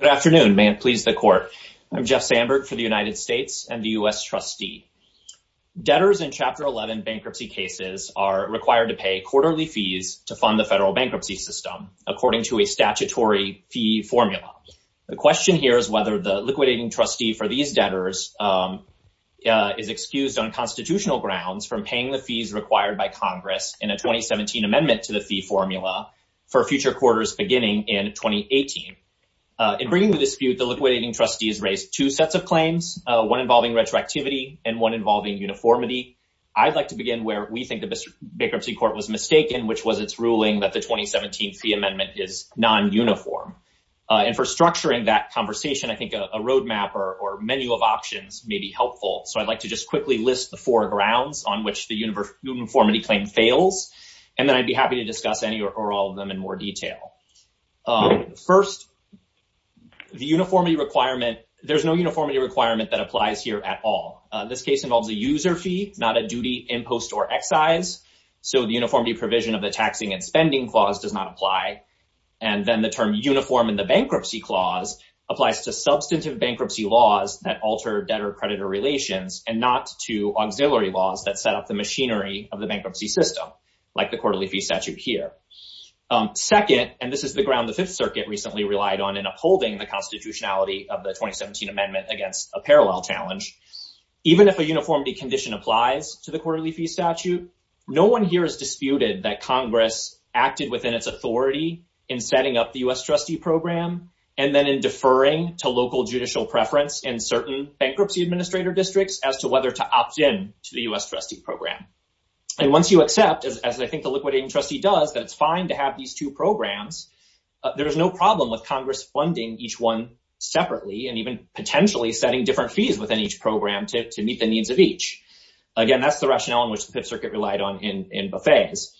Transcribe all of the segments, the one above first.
Good afternoon. May it please the Court. I'm Jeff Sandberg for the United States and the U.S. Trustee. Debtors in Chapter 11 bankruptcy cases are required to pay quarterly fees to fund the federal bankruptcy system according to a statutory fee formula. The question here is whether the liquidating trustee for these debtors is excused on constitutional grounds from paying the fees required by Congress in a 2017 amendment to the fee formula for future quarters beginning in 2018. In bringing the dispute, the liquidating trustees raised two sets of claims, one involving retroactivity and one involving uniformity. I'd like to begin where we think the bankruptcy court was mistaken, which was its ruling that the 2017 fee amendment is nonuniform. And for structuring that conversation, I think a roadmap or menu of options may be helpful. So I'd like to just quickly list the four grounds on which the uniformity claim fails, and then I'd be happy to discuss any or all of them in more detail. First, the uniformity requirement, there's no uniformity requirement that applies here at all. This case involves a user fee, not a duty, impost, or excise. So the uniformity provision of the taxing and spending clause does not apply. And then the term uniform in the bankruptcy clause applies to substantive bankruptcy laws that alter debtor-creditor relations and not to auxiliary laws that set up the machinery of the bankruptcy system, like the quarterly fee statute here. Second, and this is the ground the Fifth Circuit recently relied on in upholding the constitutionality of the 2017 amendment against a parallel challenge, even if a uniformity condition applies to the quarterly fee statute, no one here has disputed that Congress acted within its authority in setting up the U.S. trustee program and then in deferring to local judicial preference in certain bankruptcy administrator districts as to whether to opt in to the U.S. trustee program. And once you accept, as I think the liquidating trustee does, that it's fine to have these two programs, there is no problem with Congress funding each one separately and even potentially setting different fees within each program to meet the needs of each. Again, that's the rationale in which the Fifth Circuit relied on in buffets.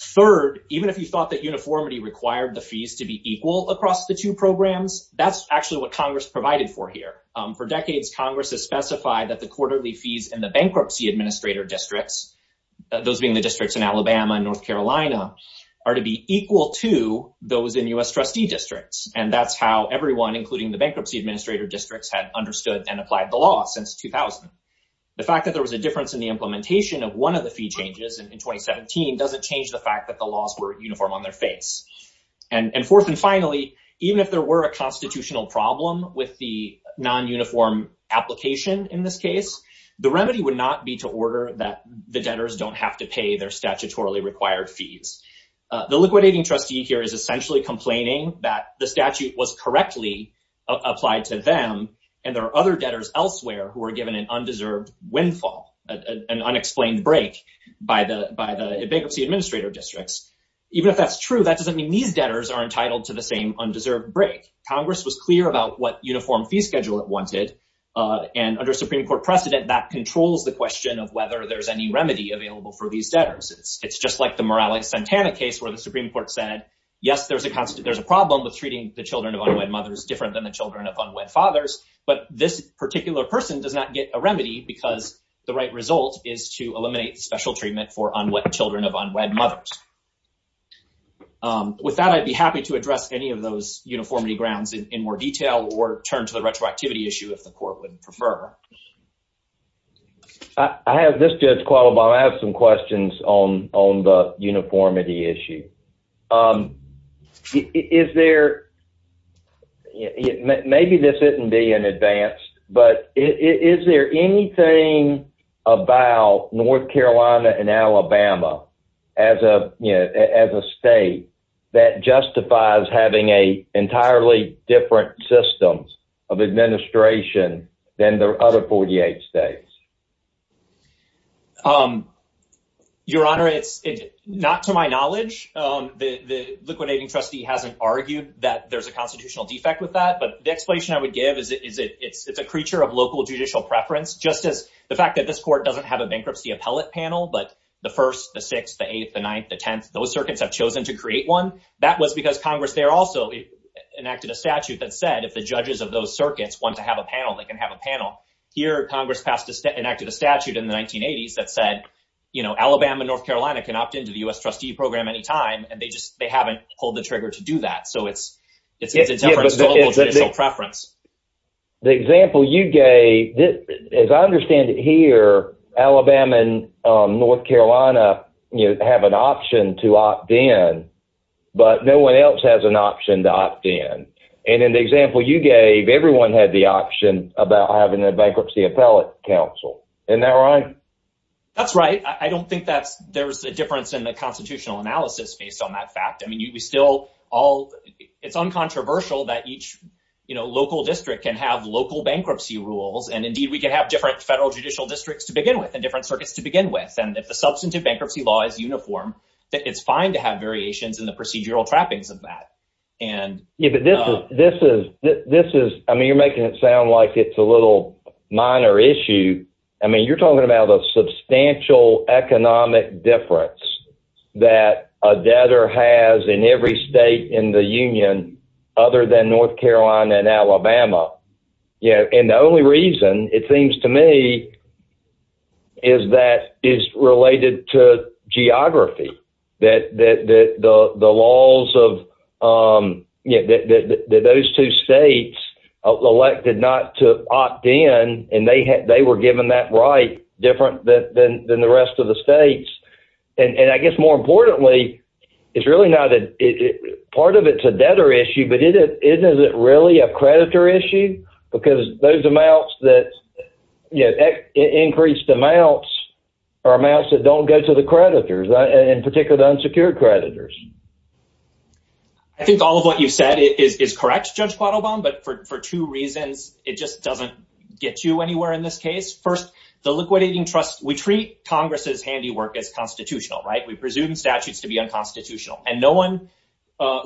Third, even if you thought that uniformity required the fees to be equal across the two programs, that's actually what Congress provided for here. For decades, Congress has specified that the quarterly fees in the bankruptcy administrator districts, those being the districts in Alabama and North Carolina, are to be equal to those in U.S. trustee districts, and that's how everyone, including the bankruptcy administrator districts, had understood and applied the law since 2000. The fact that there was a difference in the implementation of one of the fee changes in 2017 doesn't change the fact that the laws were uniform on their face. And fourth and finally, even if there were a constitutional problem with the non-uniform application in this case, the remedy would not be to order that the debtors don't have to pay their statutorily required fees. The liquidating trustee here is essentially complaining that the statute was correctly applied to them and there are other debtors elsewhere who are given an undeserved windfall, an unexplained break by the bankruptcy administrator districts. Even if that's true, that doesn't mean these debtors are entitled to the same undeserved break. Congress was clear about what uniform fee schedule it wanted, and under Supreme Court precedent, that controls the question of whether there's any remedy available for these debtors. It's just like the Morales-Santana case where the Supreme Court said, yes, there's a constant, there's a problem with treating the children of unwed mothers different than the children of unwed fathers, but this particular person does not get a remedy because the right result is to eliminate the special treatment for unwed children of unwed mothers. With that, I'd be happy to address any of those uniformity grounds in more detail or turn to the retroactivity issue if the court would prefer. I have this, Judge Qualabong. I have some questions on the uniformity issue. Maybe this isn't being advanced, but is there anything about North Carolina and Alabama as a state that justifies having an entirely different system of administration than the other 48 states? Your Honor, it's not to my knowledge. The liquidating trustee hasn't argued that there's a constitutional defect with that, but the explanation I would give is it's a creature of local judicial preference, just as the fact that this court doesn't have a bankruptcy appellate panel, but the 1st, the 6th, the 8th, the 9th, the 10th, those circuits have chosen to create one. That was because Congress there also enacted a statute that said if the judges of those circuits want to have a panel, they can have a panel. Here, Congress enacted a statute in the 1980s that said, you know, Alabama and North Carolina can opt into the U.S. trustee program anytime, and they just haven't pulled the trigger to do that, so it's a different local judicial preference. The example you gave, as I understand it here, Alabama and North Carolina, you know, have an option to opt in, but no one else has an option to opt in, and in the example you gave, everyone had the option about having a bankruptcy appellate counsel. Isn't that right? That's right. I don't think there's a difference in the constitutional analysis based on that fact. I mean, it's uncontroversial that each local district can have local bankruptcy rules, and indeed we can have different federal judicial districts to begin with and different circuits to begin with, and if the substantive bankruptcy law is uniform, it's fine to have variations in the procedural trappings of that. Yeah, but this is, I mean, you're making it sound like it's a little minor issue. I mean, you're talking about a substantial economic difference that a debtor has in every state in the union other than North Carolina and Alabama, and the only reason, it seems to me, is that it's related to geography, that the laws of those two states elected not to opt in, and they were given that right different than the rest of the states, and I guess more importantly, it's really not, part of it's a debtor issue, but is it really a creditor issue? Because those amounts that, you know, increased amounts are amounts that don't go to the creditors, in particular the unsecured creditors. I think all of what you've said is correct, Judge Quattlebaum, but for two reasons, it just doesn't get you anywhere in this case. First, the liquidating trust, we treat Congress's handiwork as constitutional, right? We presume statutes to be unconstitutional, and no one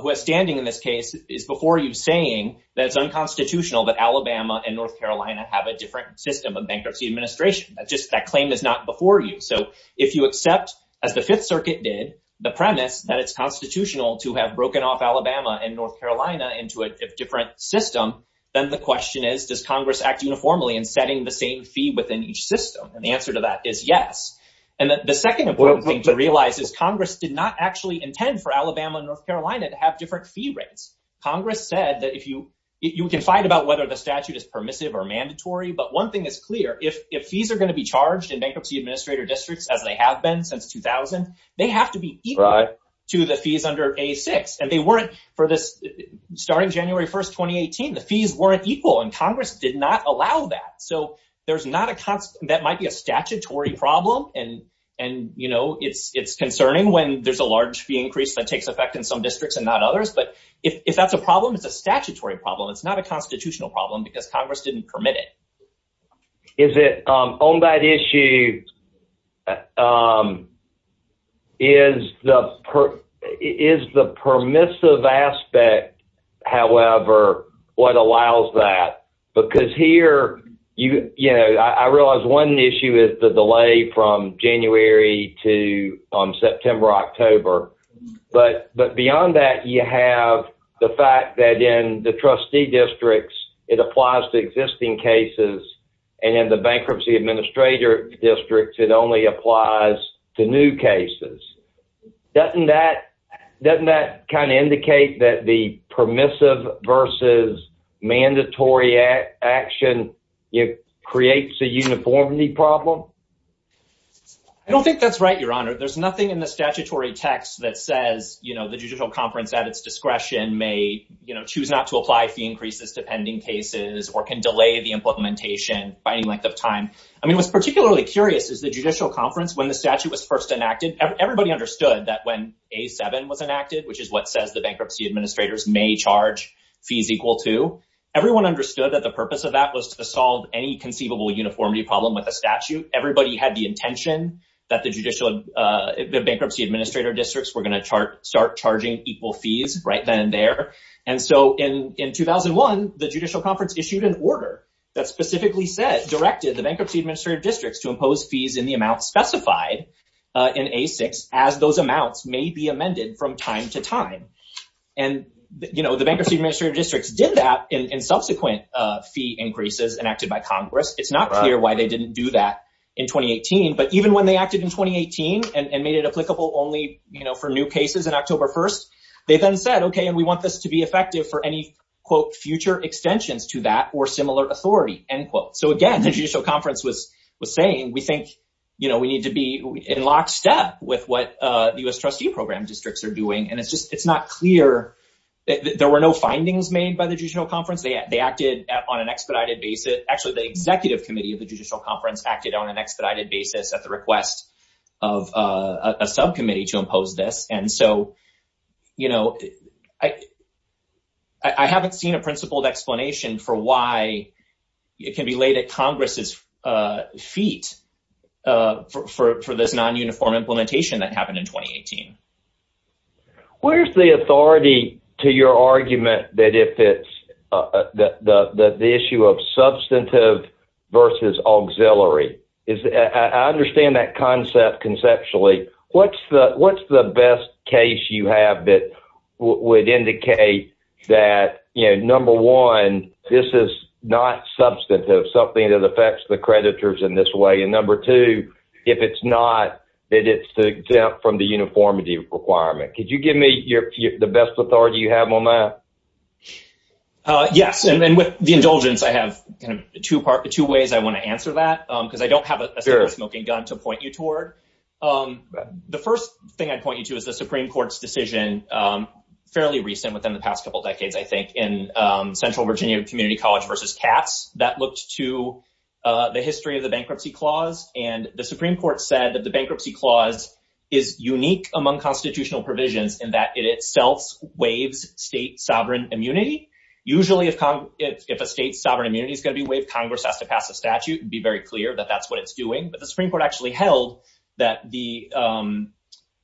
who is standing in this case is before you saying that it's unconstitutional that Alabama and North Carolina have a different system of bankruptcy administration. That claim is not before you, so if you accept, as the Fifth Circuit did, the premise that it's constitutional to have broken off Alabama and North Carolina into a different system, then the question is, does Congress act uniformly in setting the same fee within each system? And the answer to that is yes. And the second important thing to realize is Congress did not actually intend for Alabama and North Carolina to have different fee rates. Congress said that if you, you can fight about whether the statute is permissive or mandatory, but one thing is clear, if fees are going to be charged in bankruptcy administrator districts, as they have been since 2000, they have to be equal to the fees under A-6. And they weren't, for this, starting January 1st, 2018, the fees weren't equal, and Congress did not allow that. So there's not a, that might be a statutory problem, and you know, it's concerning when there's a large fee increase that takes effect in some districts and not others, but if that's a problem, it's a statutory problem. It's not a constitutional problem because Congress didn't permit it. Is it, on that issue, is the permissive aspect, however, what allows that? Because here, you know, I realize one issue is the delay from January to September, October, but beyond that, you have the fact that in the trustee districts, it applies to existing cases, and in the bankruptcy administrator districts, it only applies to new cases. Doesn't that, doesn't that kind of creates a uniformity problem? I don't think that's right, Your Honor. There's nothing in the statutory text that says, you know, the judicial conference at its discretion may, you know, choose not to apply fee increases to pending cases or can delay the implementation by any length of time. I mean, what's particularly curious is the judicial conference, when the statute was first enacted, everybody understood that when A-7 was enacted, which is what says the bankruptcy administrators may charge fees equal to, everyone understood that the purpose of that was to solve any conceivable uniformity problem with a statute. Everybody had the intention that the bankruptcy administrator districts were going to start charging equal fees right then and there, and so in 2001, the judicial conference issued an order that specifically said, directed the bankruptcy administrator districts to impose fees in the amount specified in A-6 as those amounts may be amended from time to time, and, you know, the bankruptcy administrator districts did that in subsequent fee increases enacted by Congress. It's not clear why they didn't do that in 2018, but even when they acted in 2018 and made it applicable only, you know, for new cases in October 1st, they then said, okay, and we want this to be effective for any, quote, future extensions to that or similar authority, end quote. So again, the judicial conference was saying, we think, you know, we need to be in lockstep with what the U.S. trustee program districts are doing, and it's just, it's not clear. There were no findings made by the judicial conference. They acted on an expedited basis. Actually, the executive committee of the judicial conference acted on an expedited basis at the request of a subcommittee to impose this, and so, you know, I haven't seen a principled explanation for why it can be laid at Congress's feet for this non-uniform implementation that happened in 2018. Where's the authority to your argument that if it's the issue of substantive versus auxiliary? I understand that concept conceptually. What's the best case you have that would indicate that, you know, number one, this is not substantive, something that affects the creditors in this way, and number two, if it's not, that it's exempt from the uniformity requirement. Could you give me the best authority you have on that? Yes, and with the indulgence, I have kind of two ways I want to answer that, because I don't have a smoking gun to point you toward. The first thing I'd point you to is the Supreme Court's decision, fairly recent within the past couple decades, I think, in Central Virginia Community College versus Katz that looked to the history of the bankruptcy clause, and the Supreme Court said that the bankruptcy clause is unique among constitutional provisions in that it itself waives state sovereign immunity. Usually, if a state's sovereign immunity is going to be waived, Congress has to pass a statute and be very clear that that's what it's doing, but the Supreme Court actually held that the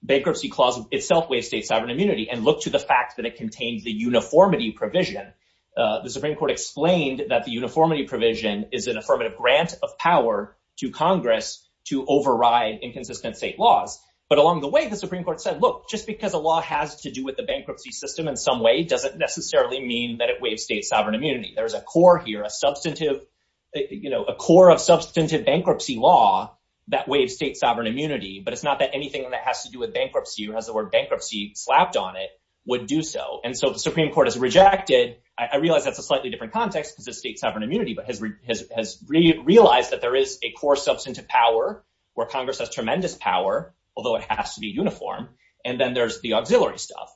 bankruptcy clause itself waived state sovereign immunity and looked to the fact that it contains the uniformity provision. The Supreme Court explained that the uniformity provision is an affirmative grant of power to Congress to override inconsistent state laws, but along the way, the Supreme Court said, look, just because a law has to do with the bankruptcy system in some way doesn't necessarily mean that it waives state sovereign immunity. There's a core here, a core of substantive bankruptcy law that waives state sovereign immunity, but it's not that anything that has to do with bankruptcy or has the word bankruptcy slapped on it would do so, and so the Supreme Court has rejected, I realize that's a slightly different context because of state sovereign immunity, but has realized that there is a core substantive power where Congress has tremendous power, although it has to be uniform, and then there's the auxiliary stuff.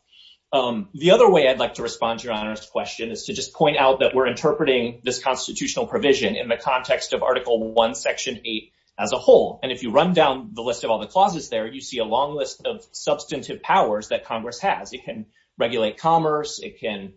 The other way I'd like to respond to Your Honor's question is to just point out that we're interpreting this constitutional provision in the context of Article I, Section 8 as a whole, and if you run down the list of all the clauses there, you see a long list of substantive powers that Congress has. It can regulate commerce. It can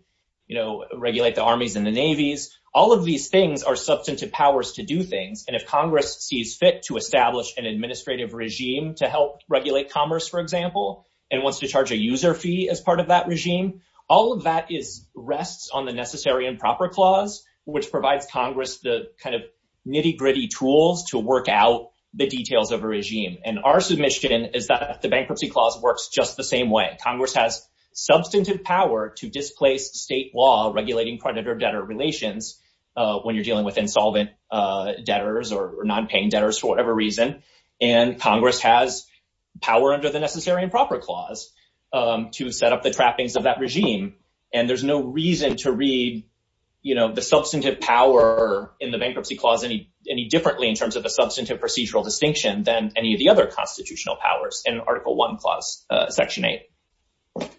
regulate the armies and the navies. All of these things are substantive powers to do things, and if Congress sees fit to establish an administrative regime to help regulate commerce, for example, and wants to charge a user fee as part of that regime, all of that rests on the Necessary and Proper Clause, which provides Congress the kind of nitty-gritty tools to work out the details of a regime, and our submission is that the Bankruptcy Clause works just the same way. Congress has substantive power to displace state law regulating creditor-debtor relations when you're dealing with insolvent debtors or non-paying debtors for whatever reason, and Congress has power under the Necessary and Proper Clause to set up the trappings of that regime, and there's no reason to read the substantive power in the Bankruptcy Clause any differently in terms of a substantive procedural distinction than any of the other constitutional powers in Article I Clause, Section 8.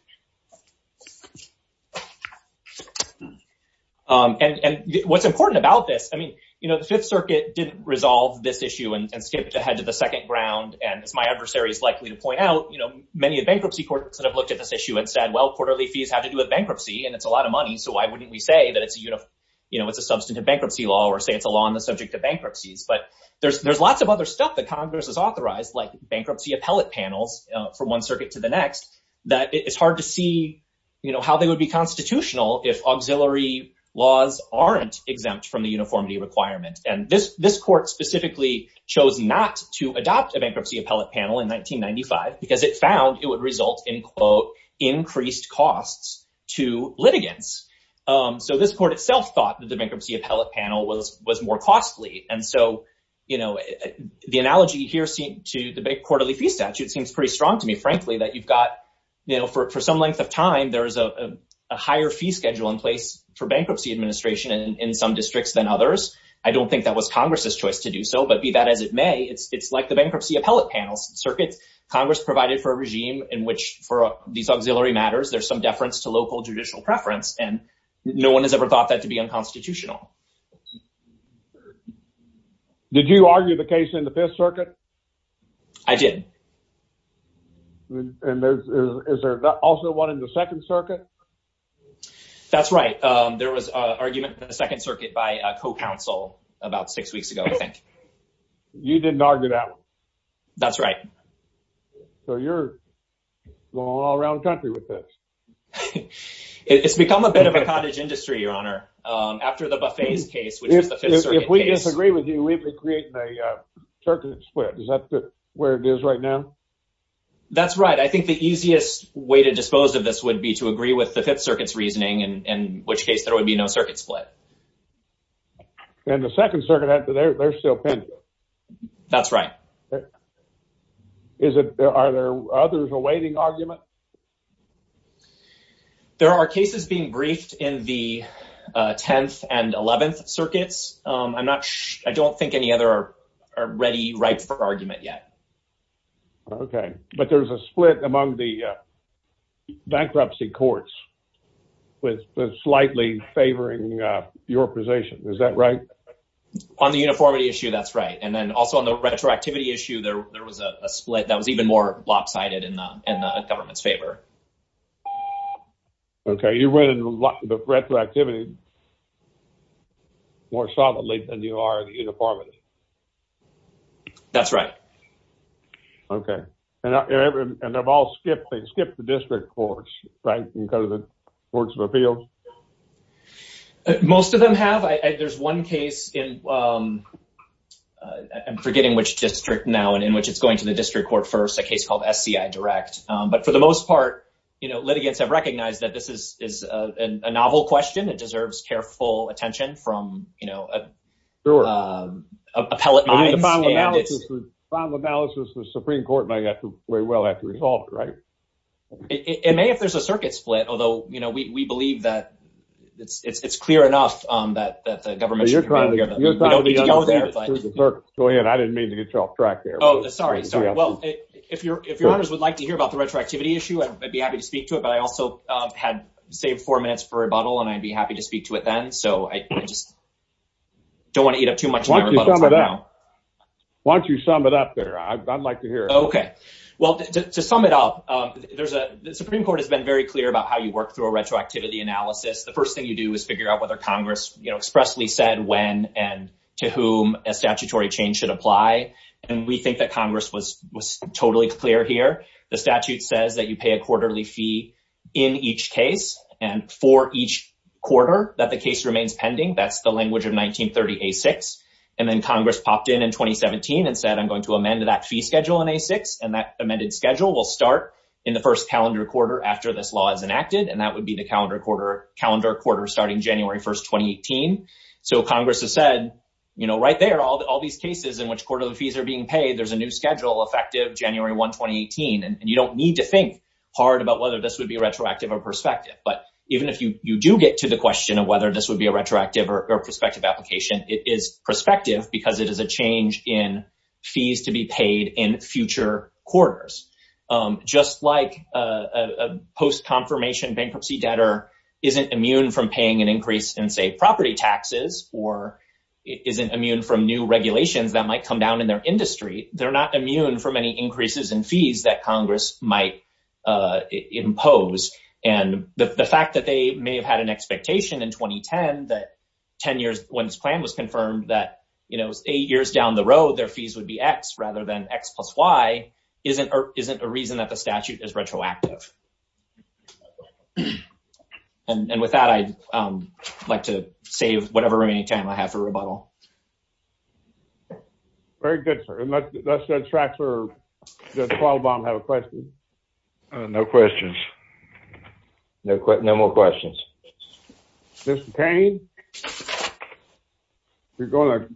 And what's important about this, I mean, you know, the Fifth Circuit didn't resolve this issue and skipped ahead to the second round, and as my adversary is likely to point out, you know, many of the bankruptcy courts that have looked at this issue and said, well, quarterly fees have to do with bankruptcy, and it's a lot of money, so why wouldn't we say that it's a, you know, it's a substantive bankruptcy law or say it's a law on the subject of bankruptcies, but there's lots of other stuff that Congress has authorized, like bankruptcy appellate panels from one circuit to the next, that it's hard to see, you know, how they would be constitutional if auxiliary laws aren't exempt from the uniformity requirement, and this court specifically chose not to adopt a bankruptcy appellate panel in 1995 because it found it would result in, quote, increased costs to litigants. So this court itself thought that the bankruptcy appellate panel was more costly, and so, you know, the analogy here to the big quarterly fee statute seems pretty strong to me, frankly, that you've got, you know, for some length of time, there's a higher fee schedule in place for bankruptcy administration in some districts than others. I don't think that was Congress's choice to do so, but be that as it may, it's like the bankruptcy appellate panels circuits. Congress provided for a regime in which for these auxiliary matters, there's some deference to local judicial preference, and no one has ever thought that to be unconstitutional. Did you argue the case in the Fifth Circuit? I did. And is there also one in the Second Circuit? That's right. There was an argument in the Second Circuit by a co-counsel about six weeks ago, I think. You didn't argue that one? That's right. So you're going all around the country with this. It's become a bit of a cottage industry, Your Honor. After the Buffet's case, which is the Fifth Circuit case. If we disagree with you, we've been creating a circuit split. Is that where it is right now? That's right. I think the easiest way to dispose of this would be to agree with the Fifth Circuit's reasoning, in which case there would be no circuit split. And the Second Circuit, they're still pending. That's right. Are there others awaiting argument? There are cases being briefed in the Tenth and Eleventh Circuits. I don't think any other are ready, ripe for argument yet. Okay. But there's a split among the bankruptcy courts with slightly favoring your position. Is that right? On the uniformity issue, that's right. And then also on the retroactivity issue, there was a split that was even more lopsided in the government's favor. Okay. You're running the retroactivity more solidly than you are the uniformity. That's right. Okay. And they've all skipped the district courts, right? And go to the courts of appeals? Most of them have. There's one case I'm forgetting which district now, and in which it's going to the district court first, a case called SCI Direct. But for the most part, litigants have recognized that this is a novel question. It deserves careful attention from appellate minds. The final analysis of the Supreme Court might very well have to resolve it, right? It may if there's a circuit split, although we believe that it's clear enough that the government shouldn't have to go there. Go ahead. I didn't mean to get you off track there. Sorry. Well, if your honors would like to hear about the retroactivity issue, I'd be happy to speak to it. But I also had saved four minutes for rebuttal, and I'd be happy to speak to it then. So I just don't want to eat up too much of my rebuttal time now. Why don't you sum it up there? I'd like to hear it. Okay. Well, to sum it up, the Supreme Court has been very clear about how you work through a retroactivity analysis. The first thing you do is figure out whether Congress expressly said when and to whom a statutory change should apply. And we think that Congress was totally clear here. The statute says that you pay a quarterly fee in each case and for each quarter that the case remains pending. That's the language of 1930A6. And then Congress popped in in 2017 and said, I'm going to amend that fee schedule in A6. And that amended schedule will start in the first calendar quarter after this law is enacted. And that would be the calendar quarter starting January 1, 2018. So Congress has said, right there, all these cases in which quarterly fees are being paid, there's a new schedule effective January 1, 2018. And you don't need to think hard about whether this would be retroactive or prospective. But even if you do get to the question of whether this would be a retroactive or prospective application, it is prospective because it is a change in fees to be paid in future quarters. Just like a post-confirmation debtor isn't immune from paying an increase in, say, property taxes or isn't immune from new regulations that might come down in their industry, they're not immune from any increases in fees that Congress might impose. And the fact that they may have had an expectation in 2010 that 10 years when this plan was confirmed that eight years down the road their fees would be X rather than X plus Y isn't a reason that the statute is retroactive. And with that, I'd like to save whatever remaining time I have for rebuttal. Very good, sir. And let's just track, sir, did Paul Baum have a question? No questions. No more questions. Mr. Payne, you're going to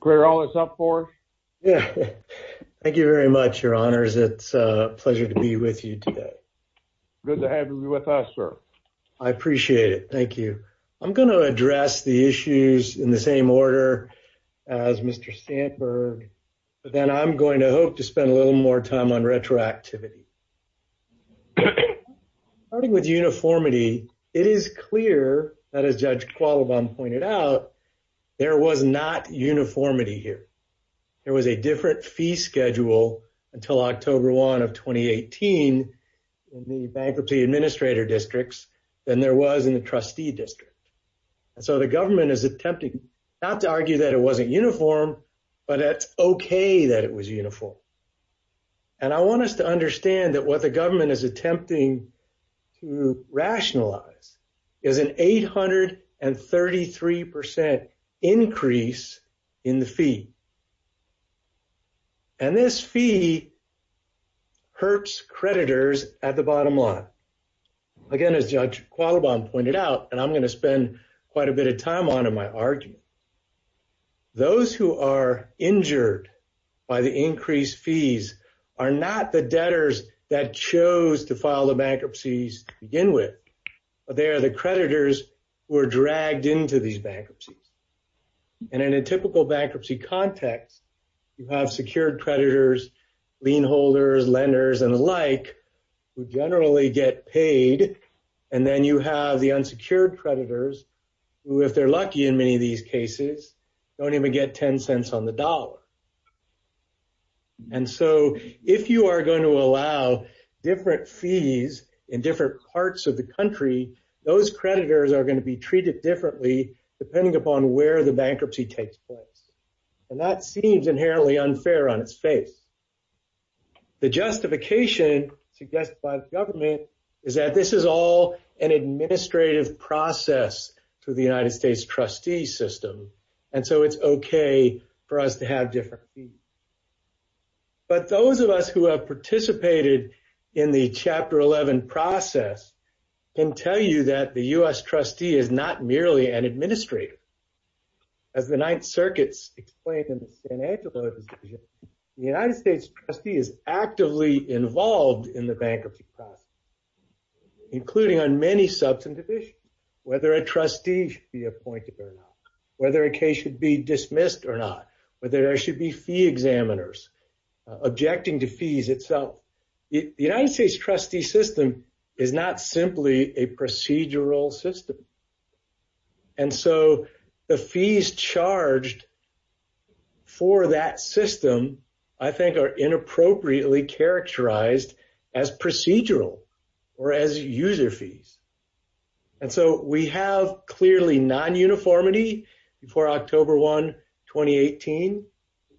clear all this up for us? Thank you very much, your honors. It's a pleasure to be with you today. Good to have you with us, sir. I appreciate it. Thank you. I'm going to address the issues in the same order as Mr. Sandberg, but then I'm going to hope to spend a little more time on retroactivity. Starting with uniformity, it is clear that, as Judge Qualibon pointed out, there was not uniformity here. There was a different fee schedule until October 1 of 2018 in the bankruptcy administrator districts than there was in the trustee district. And so the government is attempting not to argue that it wasn't uniform, but that's okay that it was uniform. And I want us to understand that what the government is fee hurts creditors at the bottom line. Again, as Judge Qualibon pointed out, and I'm going to spend quite a bit of time on in my argument, those who are injured by the increased fees are not the debtors that chose to file the bankruptcies to begin with, but they are the creditors who are dragged into these bankruptcies. And in a typical bankruptcy context, you have secured creditors, lien holders, lenders, and the like who generally get paid. And then you have the unsecured creditors who, if they're lucky in many of these cases, don't even get 10 cents on the dollar. And so if you are going to allow different fees in different parts of the country, those creditors are going to be treated differently depending upon where the bankruptcy takes place. And that seems inherently unfair on its face. The justification suggested by the government is that this is all an administrative process to the United States trustee system, and so it's okay for us to have different fees. But those of us who have participated in the Chapter 11 process can tell you that the U.S. trustee is not merely an administrator. As the Ninth Circuit's explained in the San Angelo decision, the United States trustee is actively involved in the bankruptcy process, including on many substantive issues, whether a trustee should be appointed or not, whether a case should be dismissed or not, whether there should be fee examiners objecting to fees itself. The United States trustee system is not simply a procedural system. And so the fees charged for that system, I think, are inappropriately characterized as procedural or as user fees. And so we have clearly non-uniformity before October 1, 2018.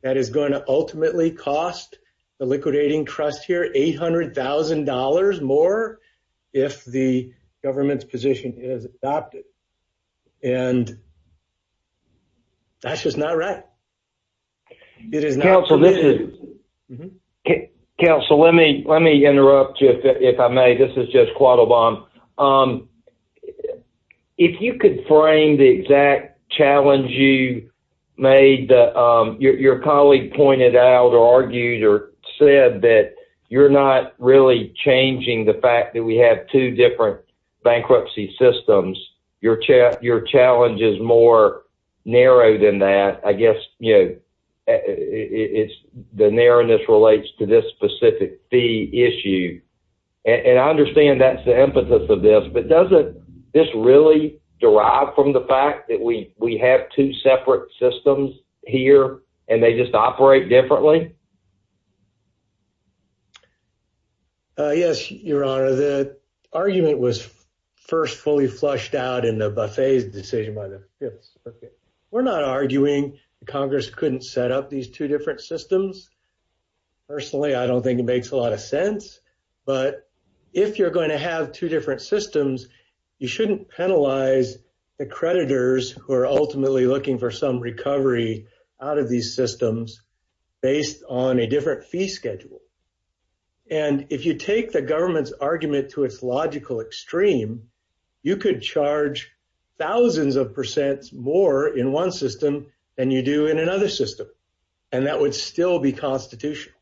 That is going to ultimately cost the liquidating trust here $800,000 more if the government's position is adopted. And that's just not right. Counsel, let me interrupt you, if I may. This is Judge Quattlebaum. If you could frame the exact challenge you made that your colleague pointed out or argued or said that you're not really changing the fact that we have two different bankruptcy systems, your challenge is more narrow than that. I guess, you know, it's the narrowness relates to this specific fee issue. And I understand that's the emphasis of this, but doesn't this really derive from the fact that we have two separate systems here and they just operate differently? Yes, Your Honor. The argument was first fully flushed out in the buffet's decision by the appeals. Okay. We're not arguing the Congress couldn't set up these two different systems. Personally, I don't think it makes a lot of sense. But if you're going to have two different systems, you shouldn't penalize the creditors who are ultimately looking for some recovery out of these systems based on a different fee schedule. And if you take the government's argument to its logical extreme, you could charge thousands of percent more in one system than you do in another system. And that would still be constitutional.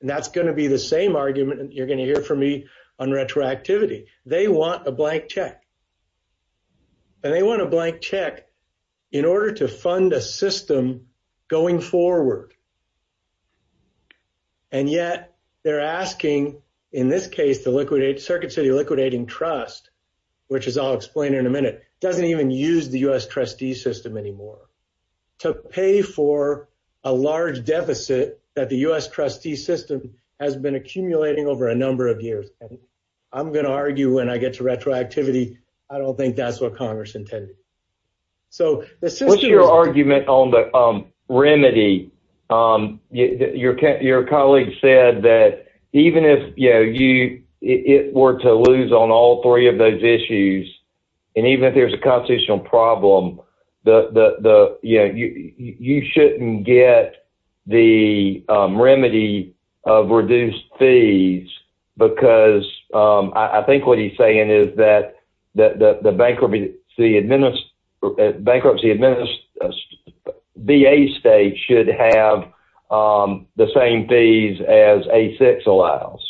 And that's going to be the same argument you're going to hear from me on retroactivity. They want a blank check. And they want a blank check in order to fund a system going forward. And yet they're asking, in this case, to liquidate Circuit City Liquidating Trust, which is I'll explain in a minute, doesn't even use the U.S. trustee system anymore to pay for a large deficit that the U.S. trustee system has been accumulating over a number of years. I don't think that's what Congress intended. So what's your argument on the remedy? Your colleague said that even if it were to lose on all three of those issues, and even if there's a constitutional problem, you shouldn't get the bankruptcy administrative VA state should have the same fees as A-6 allows.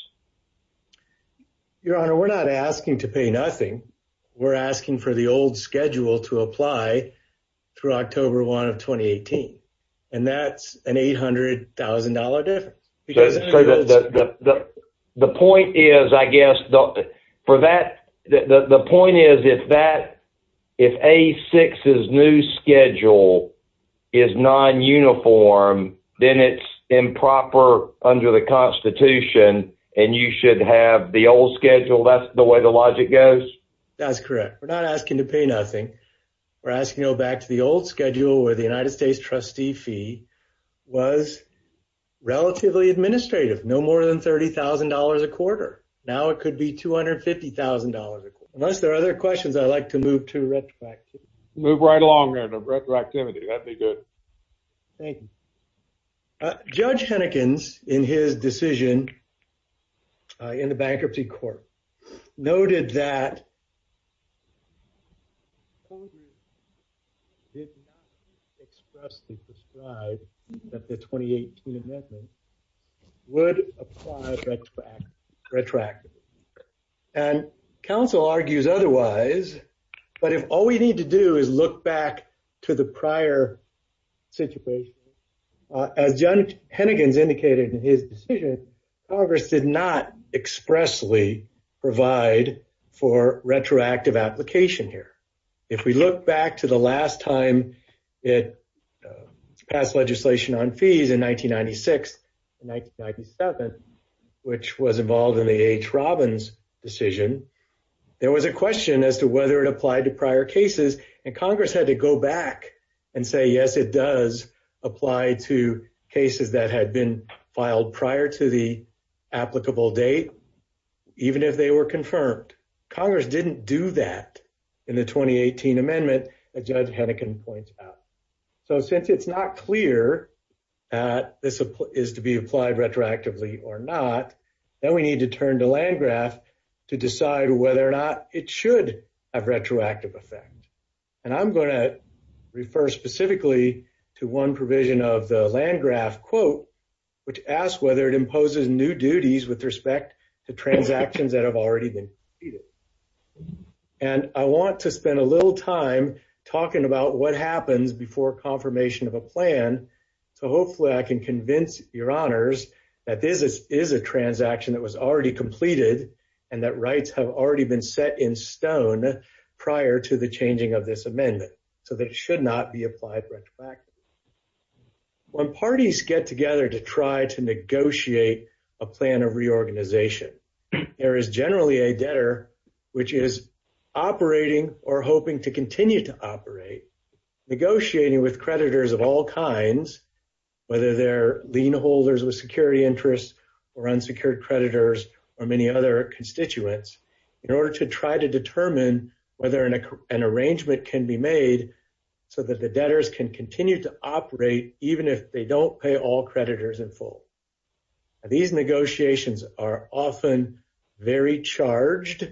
Your Honor, we're not asking to pay nothing. We're asking for the old schedule to apply through October 1 of 2018. And that's an $800,000 difference. That's true. The point is, I guess, for that, the point is, if that, if A-6's new schedule is non-uniform, then it's improper under the Constitution, and you should have the old schedule. That's the way the logic goes? That's correct. We're not asking to pay nothing. We're asking to go back to the old schedule where the United States trustee fee was relatively administrative, no more than $30,000 a quarter. Now it could be $250,000. Unless there are other questions, I'd like to move to retroactivity. Move right along there to retroactivity. That'd be good. Thank you. Judge Hennekens, in his decision in the bankruptcy court, noted that expressly described that the 2018 amendment would apply retroactively. And counsel argues otherwise, but if all we need to do is look back to the prior situation, as Judge Hennekens indicated in his decision, Congress did not expressly provide for retroactive application here. If we look back to the last time it passed legislation on fees in 1996 and 1997, which was involved in the H. Robbins decision, there was a question as to whether it applied to prior cases, and Congress had to go back and say, yes, it does apply to cases that had been filed prior to the applicable date, even if they were confirmed. Congress didn't do that in the 2018 amendment that Judge Hennekens points out. So since it's not clear that this is to be applied retroactively or not, then we need to turn to Landgraf to decide whether or not it should have retroactive effect. And I'm going to refer specifically to one provision of the Landgraf quote, which asks whether it imposes new duties with respect to transactions that have already been completed. And I want to spend a little time talking about what happens before confirmation of a plan, so hopefully I can convince your honors that this is a transaction that was already completed and that rights have already been set in stone prior to the changing of this amendment, so that it should not be applied retroactively. When parties get together to try to negotiate a plan of reorganization, there is generally a debtor which is operating or hoping to continue to operate, negotiating with creditors of all kinds, whether they're lien holders with security interests or unsecured creditors or many other constituents, in order to try to determine whether an arrangement can be made so that the debtors can continue to operate even if they don't pay all creditors in full. These negotiations are often very charged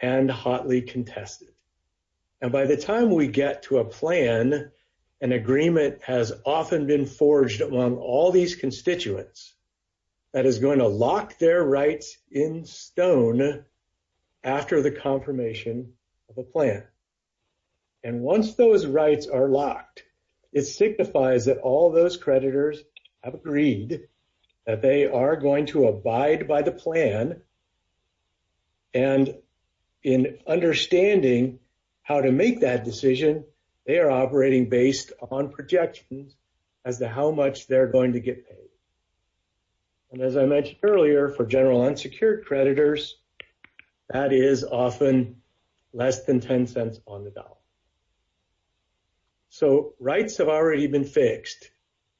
and hotly contested. And by the time we get to a plan, an agreement has often been forged among all these constituents that is going to lock their rights in stone after the confirmation of a plan. And once those rights are locked, it signifies that all those creditors have agreed that they are going to abide by the plan. And in understanding how to make that decision, they are operating based on projections as to how much they're going to get paid. And as I mentioned earlier, for general unsecured creditors, that is often less than 10 cents on the dollar. So rights have already been fixed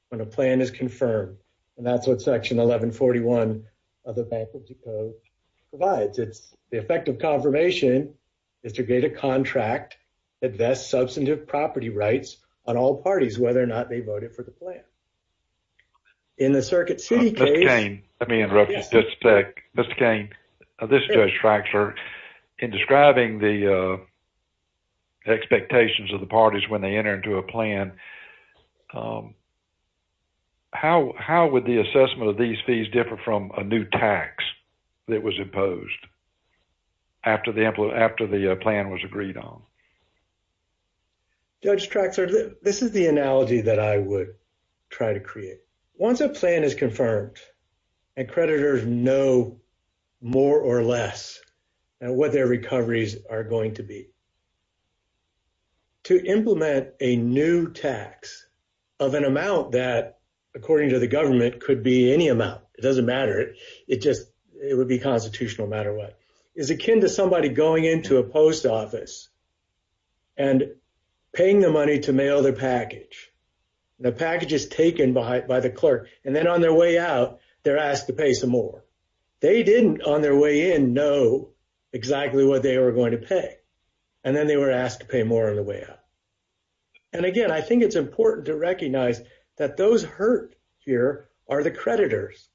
when a plan is confirmed. And that's what section 1141 of the Bank of Dakota provides. It's the effect of confirmation is to get a contract that vests substantive property rights on all parties, whether or not they voted for the plan. In the Circuit City case... Mr. Cain, let me interrupt you just a sec. Mr. Cain, this is Judge Traxler. In describing the expectations of the parties when they enter into a plan, how would the assessment of these fees differ from a new tax that was imposed after the plan was agreed on? Judge Traxler, this is the analogy that I would try to create. Once a plan is confirmed and creditors know more or less what their recoveries are going to be, to implement a new tax of an amount that, according to the government, could be any amount. It doesn't matter. It would be constitutional no matter what. It's akin to somebody going into a post office and paying the money to mail their package. The package is taken by the clerk and then on their way out, they're asked to pay some more. They didn't, on their way in, know exactly what they were going to pay. And then they were asked to pay more on the way out. And again, it's important to recognize that those hurt here are the creditors.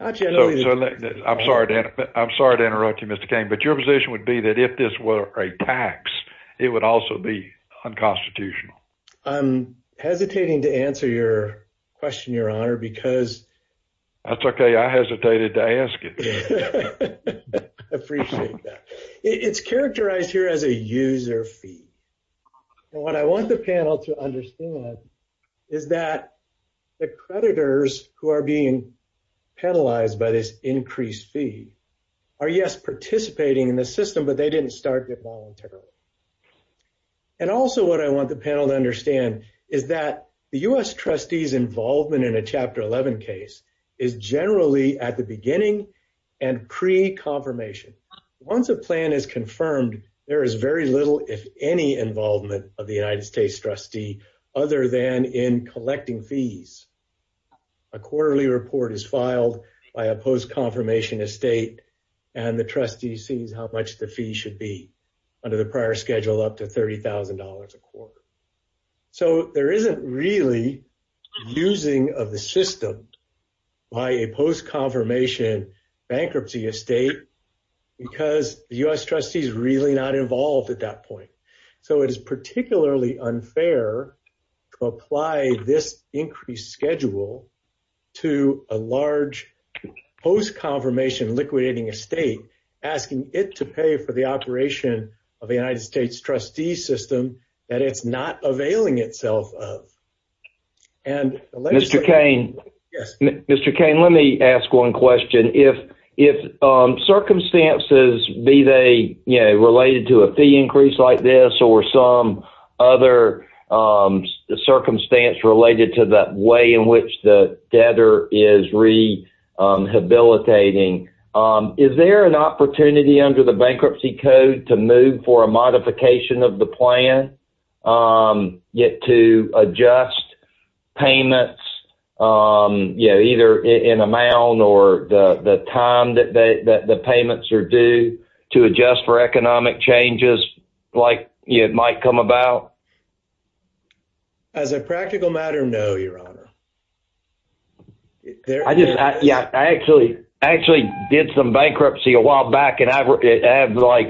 I'm sorry to interrupt you, Mr. Cain, but your position would be that if this were a tax, it would also be unconstitutional. I'm hesitating to answer your question, Your Honor, because... That's okay. I hesitated to ask it. I appreciate that. It's characterized here as a user fee. And what I want the panel to understand is that the creditors who are being penalized by this increased fee are, yes, participating in the system, but they didn't start it voluntarily. And also what I want the panel to understand is that the U.S. trustee's involvement in a Chapter 11 case is generally at the beginning and pre-confirmation. Once a plan is confirmed, there is very little, if any, involvement of the United States trustee other than in collecting fees. A quarterly report is filed by a post-confirmation estate and the trustee sees how much the fee should be under the prior schedule up to $30,000 a quarter. So there isn't really using of the system by a post-confirmation bankruptcy estate because the U.S. trustee's really not involved at that point. So it is particularly unfair to apply this increased schedule to a large post-confirmation liquidating estate, asking it to pay for the operation of the United States trustee system that it's not availing itself of. Mr. Cain, let me ask one question. If circumstances, be they related to a fee increase like this or some other circumstance related to the way in which the debtor is rehabilitating, is there an opportunity under the bankruptcy code to move for a modification of the plan to adjust payments either in amount or the time that the payments are due to adjust for economic changes like it might come about? As a practical matter, no, your honor. I just, yeah, I actually did some bankruptcy a while back and I have like,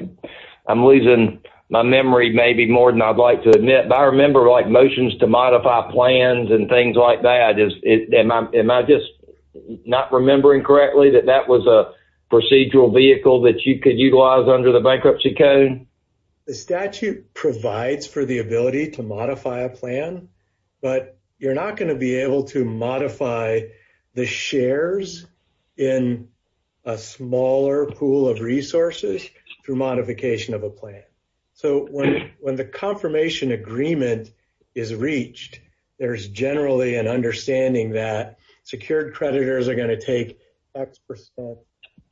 I'm losing my memory maybe more than I'd like to admit, but I remember like motions to modify plans and things like that. Am I just not remembering correctly that that was a procedural vehicle that you could utilize under the bankruptcy code? The statute provides for the ability to modify a plan, but you're not going to be able to modify the shares in a smaller pool of resources through modification of a plan. So when the confirmation agreement is reached, there's generally an understanding that secured creditors are going to take X percent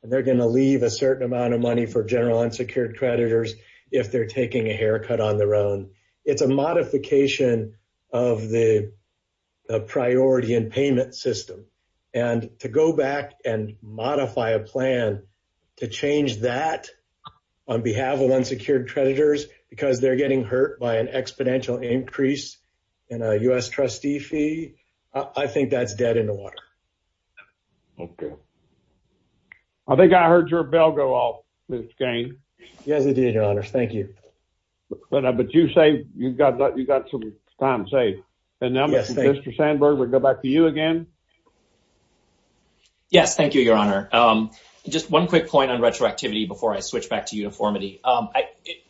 and they're going to leave a certain amount of money for general unsecured creditors if they're taking a haircut on their own. It's a modification of the priority and payment system and to go back and modify a plan to change that on behalf of unsecured creditors because they're getting hurt by an exponential increase in a U.S. trustee fee, I think that's dead in the water. Okay. I think I heard your bell go off, Ms. Gaines. Yes, indeed, your honor. Thank you. But you say you've got some time saved. And now Mr. Sandberg, we'll go back to you again. Yes, thank you, your honor. Just one quick point on retroactivity before I switch back to uniformity.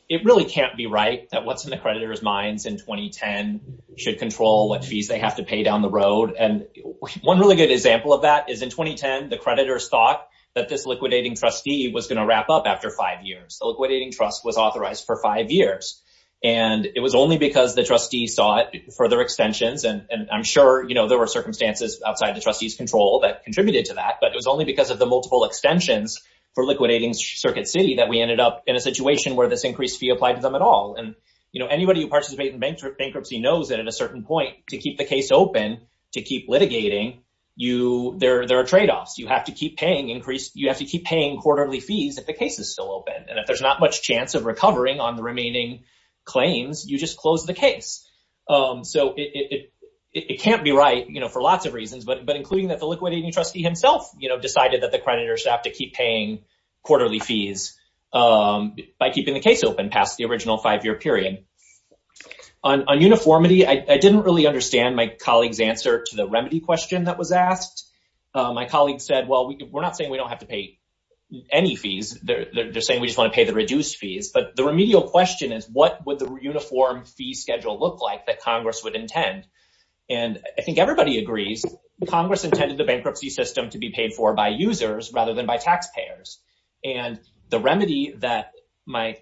It really can't be right that what's in the creditors' minds in 2010 should control what fees they have to pay down the road. And one really good example of that is in 2010, the creditors thought that this liquidating trustee was going to wrap up after five years. The liquidating trust was authorized for five years. And it was only because the trustees sought further extensions. And I'm sure there were circumstances outside the trustees' control that contributed to that. But it was only because of the multiple extensions for liquidating Circuit City that we ended up in a situation where this increased fee applied to them at all. Anybody who participates in bankruptcy knows that at a certain point, to keep the case open, to keep litigating, there are trade-offs. You have to keep paying quarterly fees if the case is still open. And if there's not much chance of recovering on the remaining claims, you just close the case. So it can't be right for lots of reasons, but including that the liquidating trustee himself decided that the creditors have to keep paying quarterly fees by keeping the case open past the original five-year period. On uniformity, I didn't really understand my colleague's answer to the remedy question that was asked. My colleague said, well, we're not saying we don't have to pay any fees. They're saying we just want to pay the reduced fees. But the remedial question is, what would the uniform fee schedule look like that Congress would intend? And I think everybody agrees Congress intended the bankruptcy system to be paid for by users rather than by taxpayers. And the remedy that my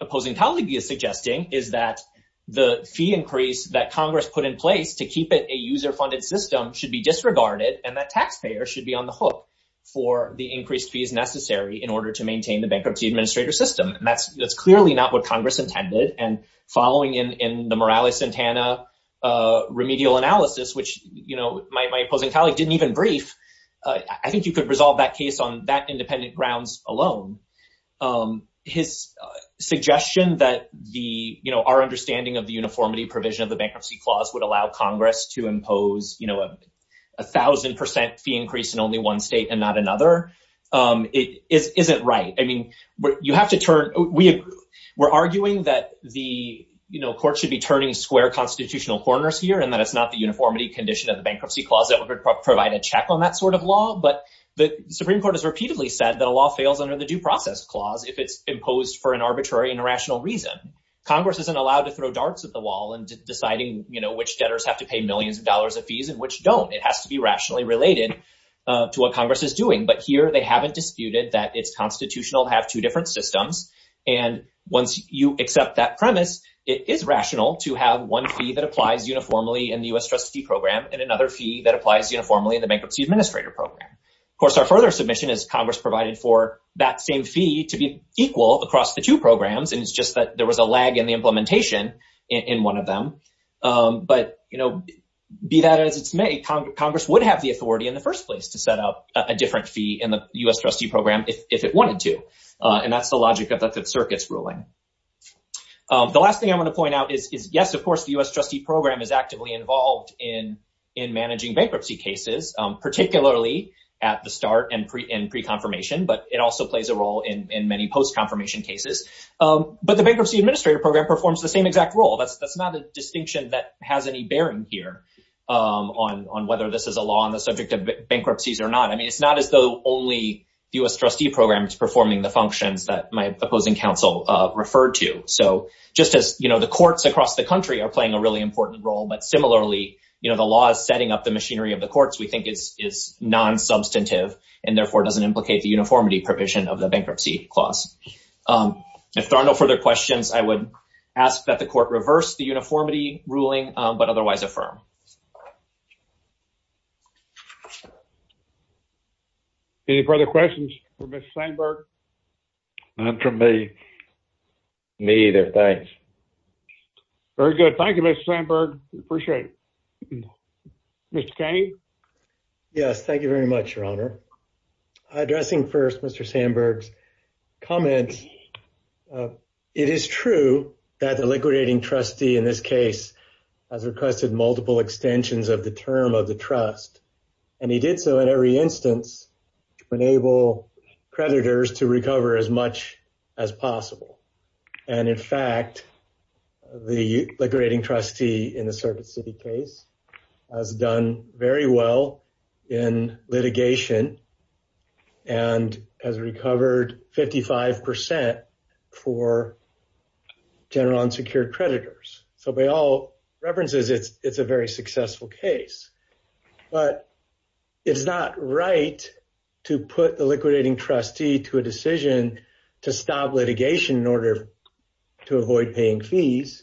opposing colleague is suggesting is that the fee increase that Congress put in place to keep it a user-funded system should be disregarded and that taxpayers should be on the hook for the increased fees necessary in order to maintain the bankruptcy administrator system. And that's clearly not what Congress intended. And following in the Morales-Santana remedial analysis, which my opposing colleague didn't even brief, I think you could resolve that case on that independent grounds alone. His suggestion that our understanding of the uniformity provision of the bankruptcy clause would allow Congress to impose a 1,000% fee increase in only one state and not another isn't right. We're arguing that the court should be turning square constitutional corners here and it's not the uniformity condition of the bankruptcy clause that would provide a check on that sort of law. But the Supreme Court has repeatedly said that a law fails under the due process clause if it's imposed for an arbitrary and irrational reason. Congress isn't allowed to throw darts at the wall in deciding which debtors have to pay millions of dollars of fees and which don't. It has to be rationally related to what Congress is doing. But here they haven't disputed that it's constitutional to have two different systems. And once you accept that premise, it is rational to have one fee that applies uniformly in the U.S. trustee program and another fee that applies uniformly in the bankruptcy administrator program. Of course, our further submission is Congress provided for that same fee to be equal across the two programs and it's just that there was a lag in the implementation in one of them. But be that as it's made, Congress would have the authority in the first place to set up a different fee in the U.S. trustee program if it is unconstitutional. The U.S. trustee program is actively involved in managing bankruptcy cases, particularly at the start and pre-confirmation, but it also plays a role in many post-confirmation cases. But the bankruptcy administrator program performs the same exact role. That's not a distinction that has any bearing here on whether this is a law on the subject of bankruptcies or not. I mean, it's not as though only the U.S. trustee program is performing the functions that my opposing counsel referred to. So just as, you know, the courts across the country are playing a really important role, but similarly, you know, the law is setting up the machinery of the courts we think is non-substantive and therefore doesn't implicate the uniformity provision of the bankruptcy clause. If there are no further questions, I would ask that the court reverse the uniformity ruling, but otherwise affirm. Any further questions for Mr. Sandberg? Not from me. Me either. Thanks. Very good. Thank you, Mr. Sandberg. Appreciate it. Mr. Kane? Yes, thank you very much, Your Honor. Addressing first Mr. Sandberg's comments, it is true that the liquidating trustee in this case has requested multiple extensions of the term of the trust, and he did so in every instance to enable creditors to recover as much as possible. And in fact, the liquidating trustee in the Circuit City case has done very well in litigation and has recovered 55% for general unsecured creditors. So by all references, it's a very successful case. But it's not right to put the liquidating trustee to a decision to stop litigation in order to avoid paying fees.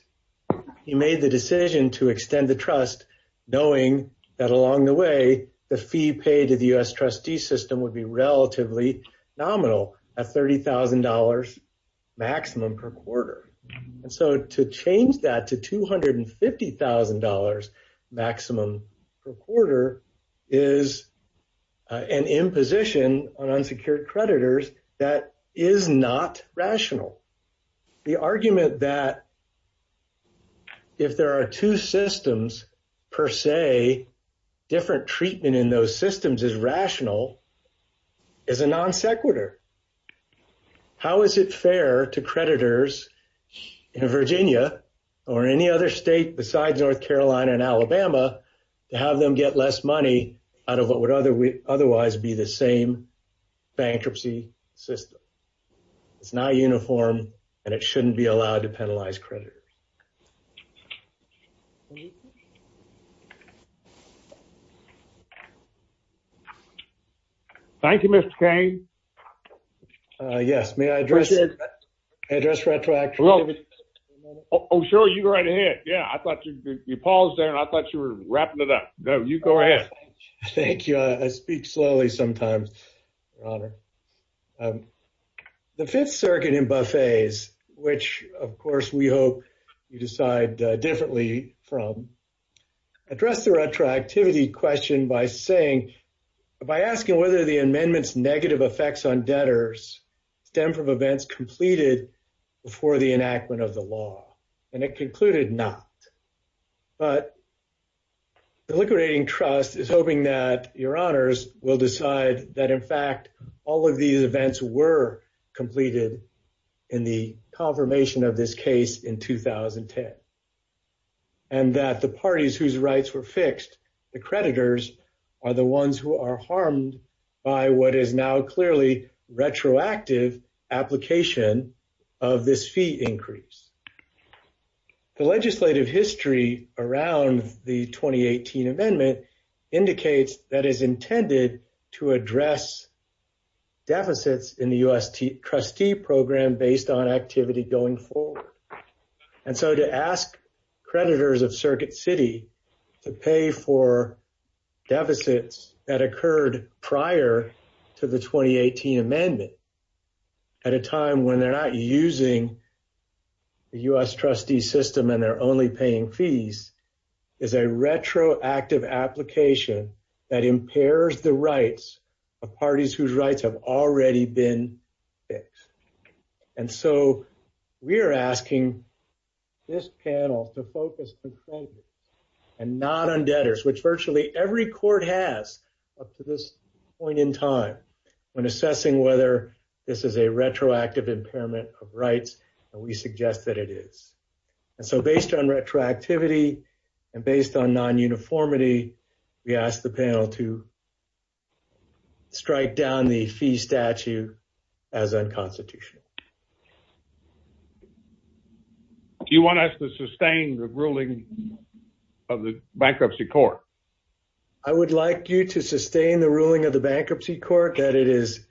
He made the decision to extend the trust, knowing that along the way, the fee paid to the U.S. trustee system would be relatively nominal at $30,000 maximum per quarter. And so to change that to $250,000 maximum per quarter is an imposition on unsecured creditors that is not rational. The argument that if there are two systems per se, different treatment in those systems is rational is a non sequitur. How is it fair to creditors in Virginia or any other state besides North Carolina and Alabama to have them get less money out of what would otherwise be the same bankruptcy system? It's not uniform, and it shouldn't be allowed to penalize creditors. Thank you, Mr. Kane. Yes, may I address Retroactive? Oh, sure, you go right ahead. Yeah, I thought you paused there, and I thought you were wrapping it up. No, you go ahead. Thank you. I speak slowly sometimes, Your Honor. The Fifth Circuit in Buffet's, which, of course, we hope you decide differently from, addressed the retroactivity question by saying, by asking whether the amendment's negative effects on debtors stem from events completed before the enactment of the law, and it concluded not. But the liquidating trust is hoping that Your Honors will decide that, in fact, all of these events were completed in the confirmation of this case in 2010, and that the parties whose rights were fixed, the creditors, are the ones who are harmed by what is now clearly retroactive application of this fee increase. The legislative history around the 2018 amendment indicates that it is intended to address deficits in the U.S. trustee program based on activity going forward. And so to ask creditors of Circuit City to pay for deficits that occurred prior to the 2018 amendment at a time when they're not using the U.S. trustee system and they're only paying fees is a retroactive application that impairs the rights of parties whose rights have already been fixed. And so we're asking this panel to focus on creditors and not on debtors, which virtually every court has up to this point in time when assessing whether this is a retroactive impairment of rights, and we suggest that it is. And so based on retroactivity and based on non-uniformity, we ask the panel to strike down the fee statute as unconstitutional. Do you want us to sustain the ruling of the bankruptcy court? I would like you to sustain the ruling of the bankruptcy court that it is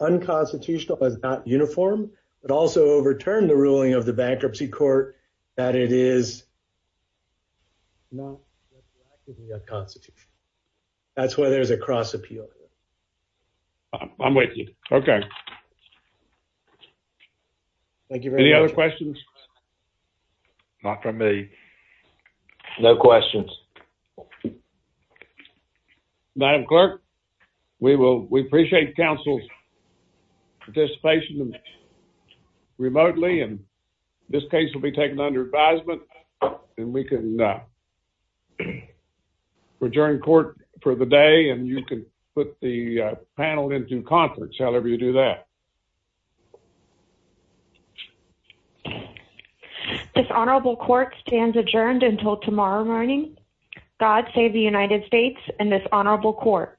unconstitutional but not uniform, but also overturn the ruling of the bankruptcy court that it is not retroactively unconstitutional. That's why there's a cross appeal here. I'm with you. Okay. Thank you very much. Any other questions? Not from me. No questions. Madam Clerk, we appreciate council's participation remotely and this case will be taken under advisement and we can adjourn court for the day and you can put the panel into conference, however you do that. This honorable court stands adjourned until tomorrow morning. God save the United States and this honorable court.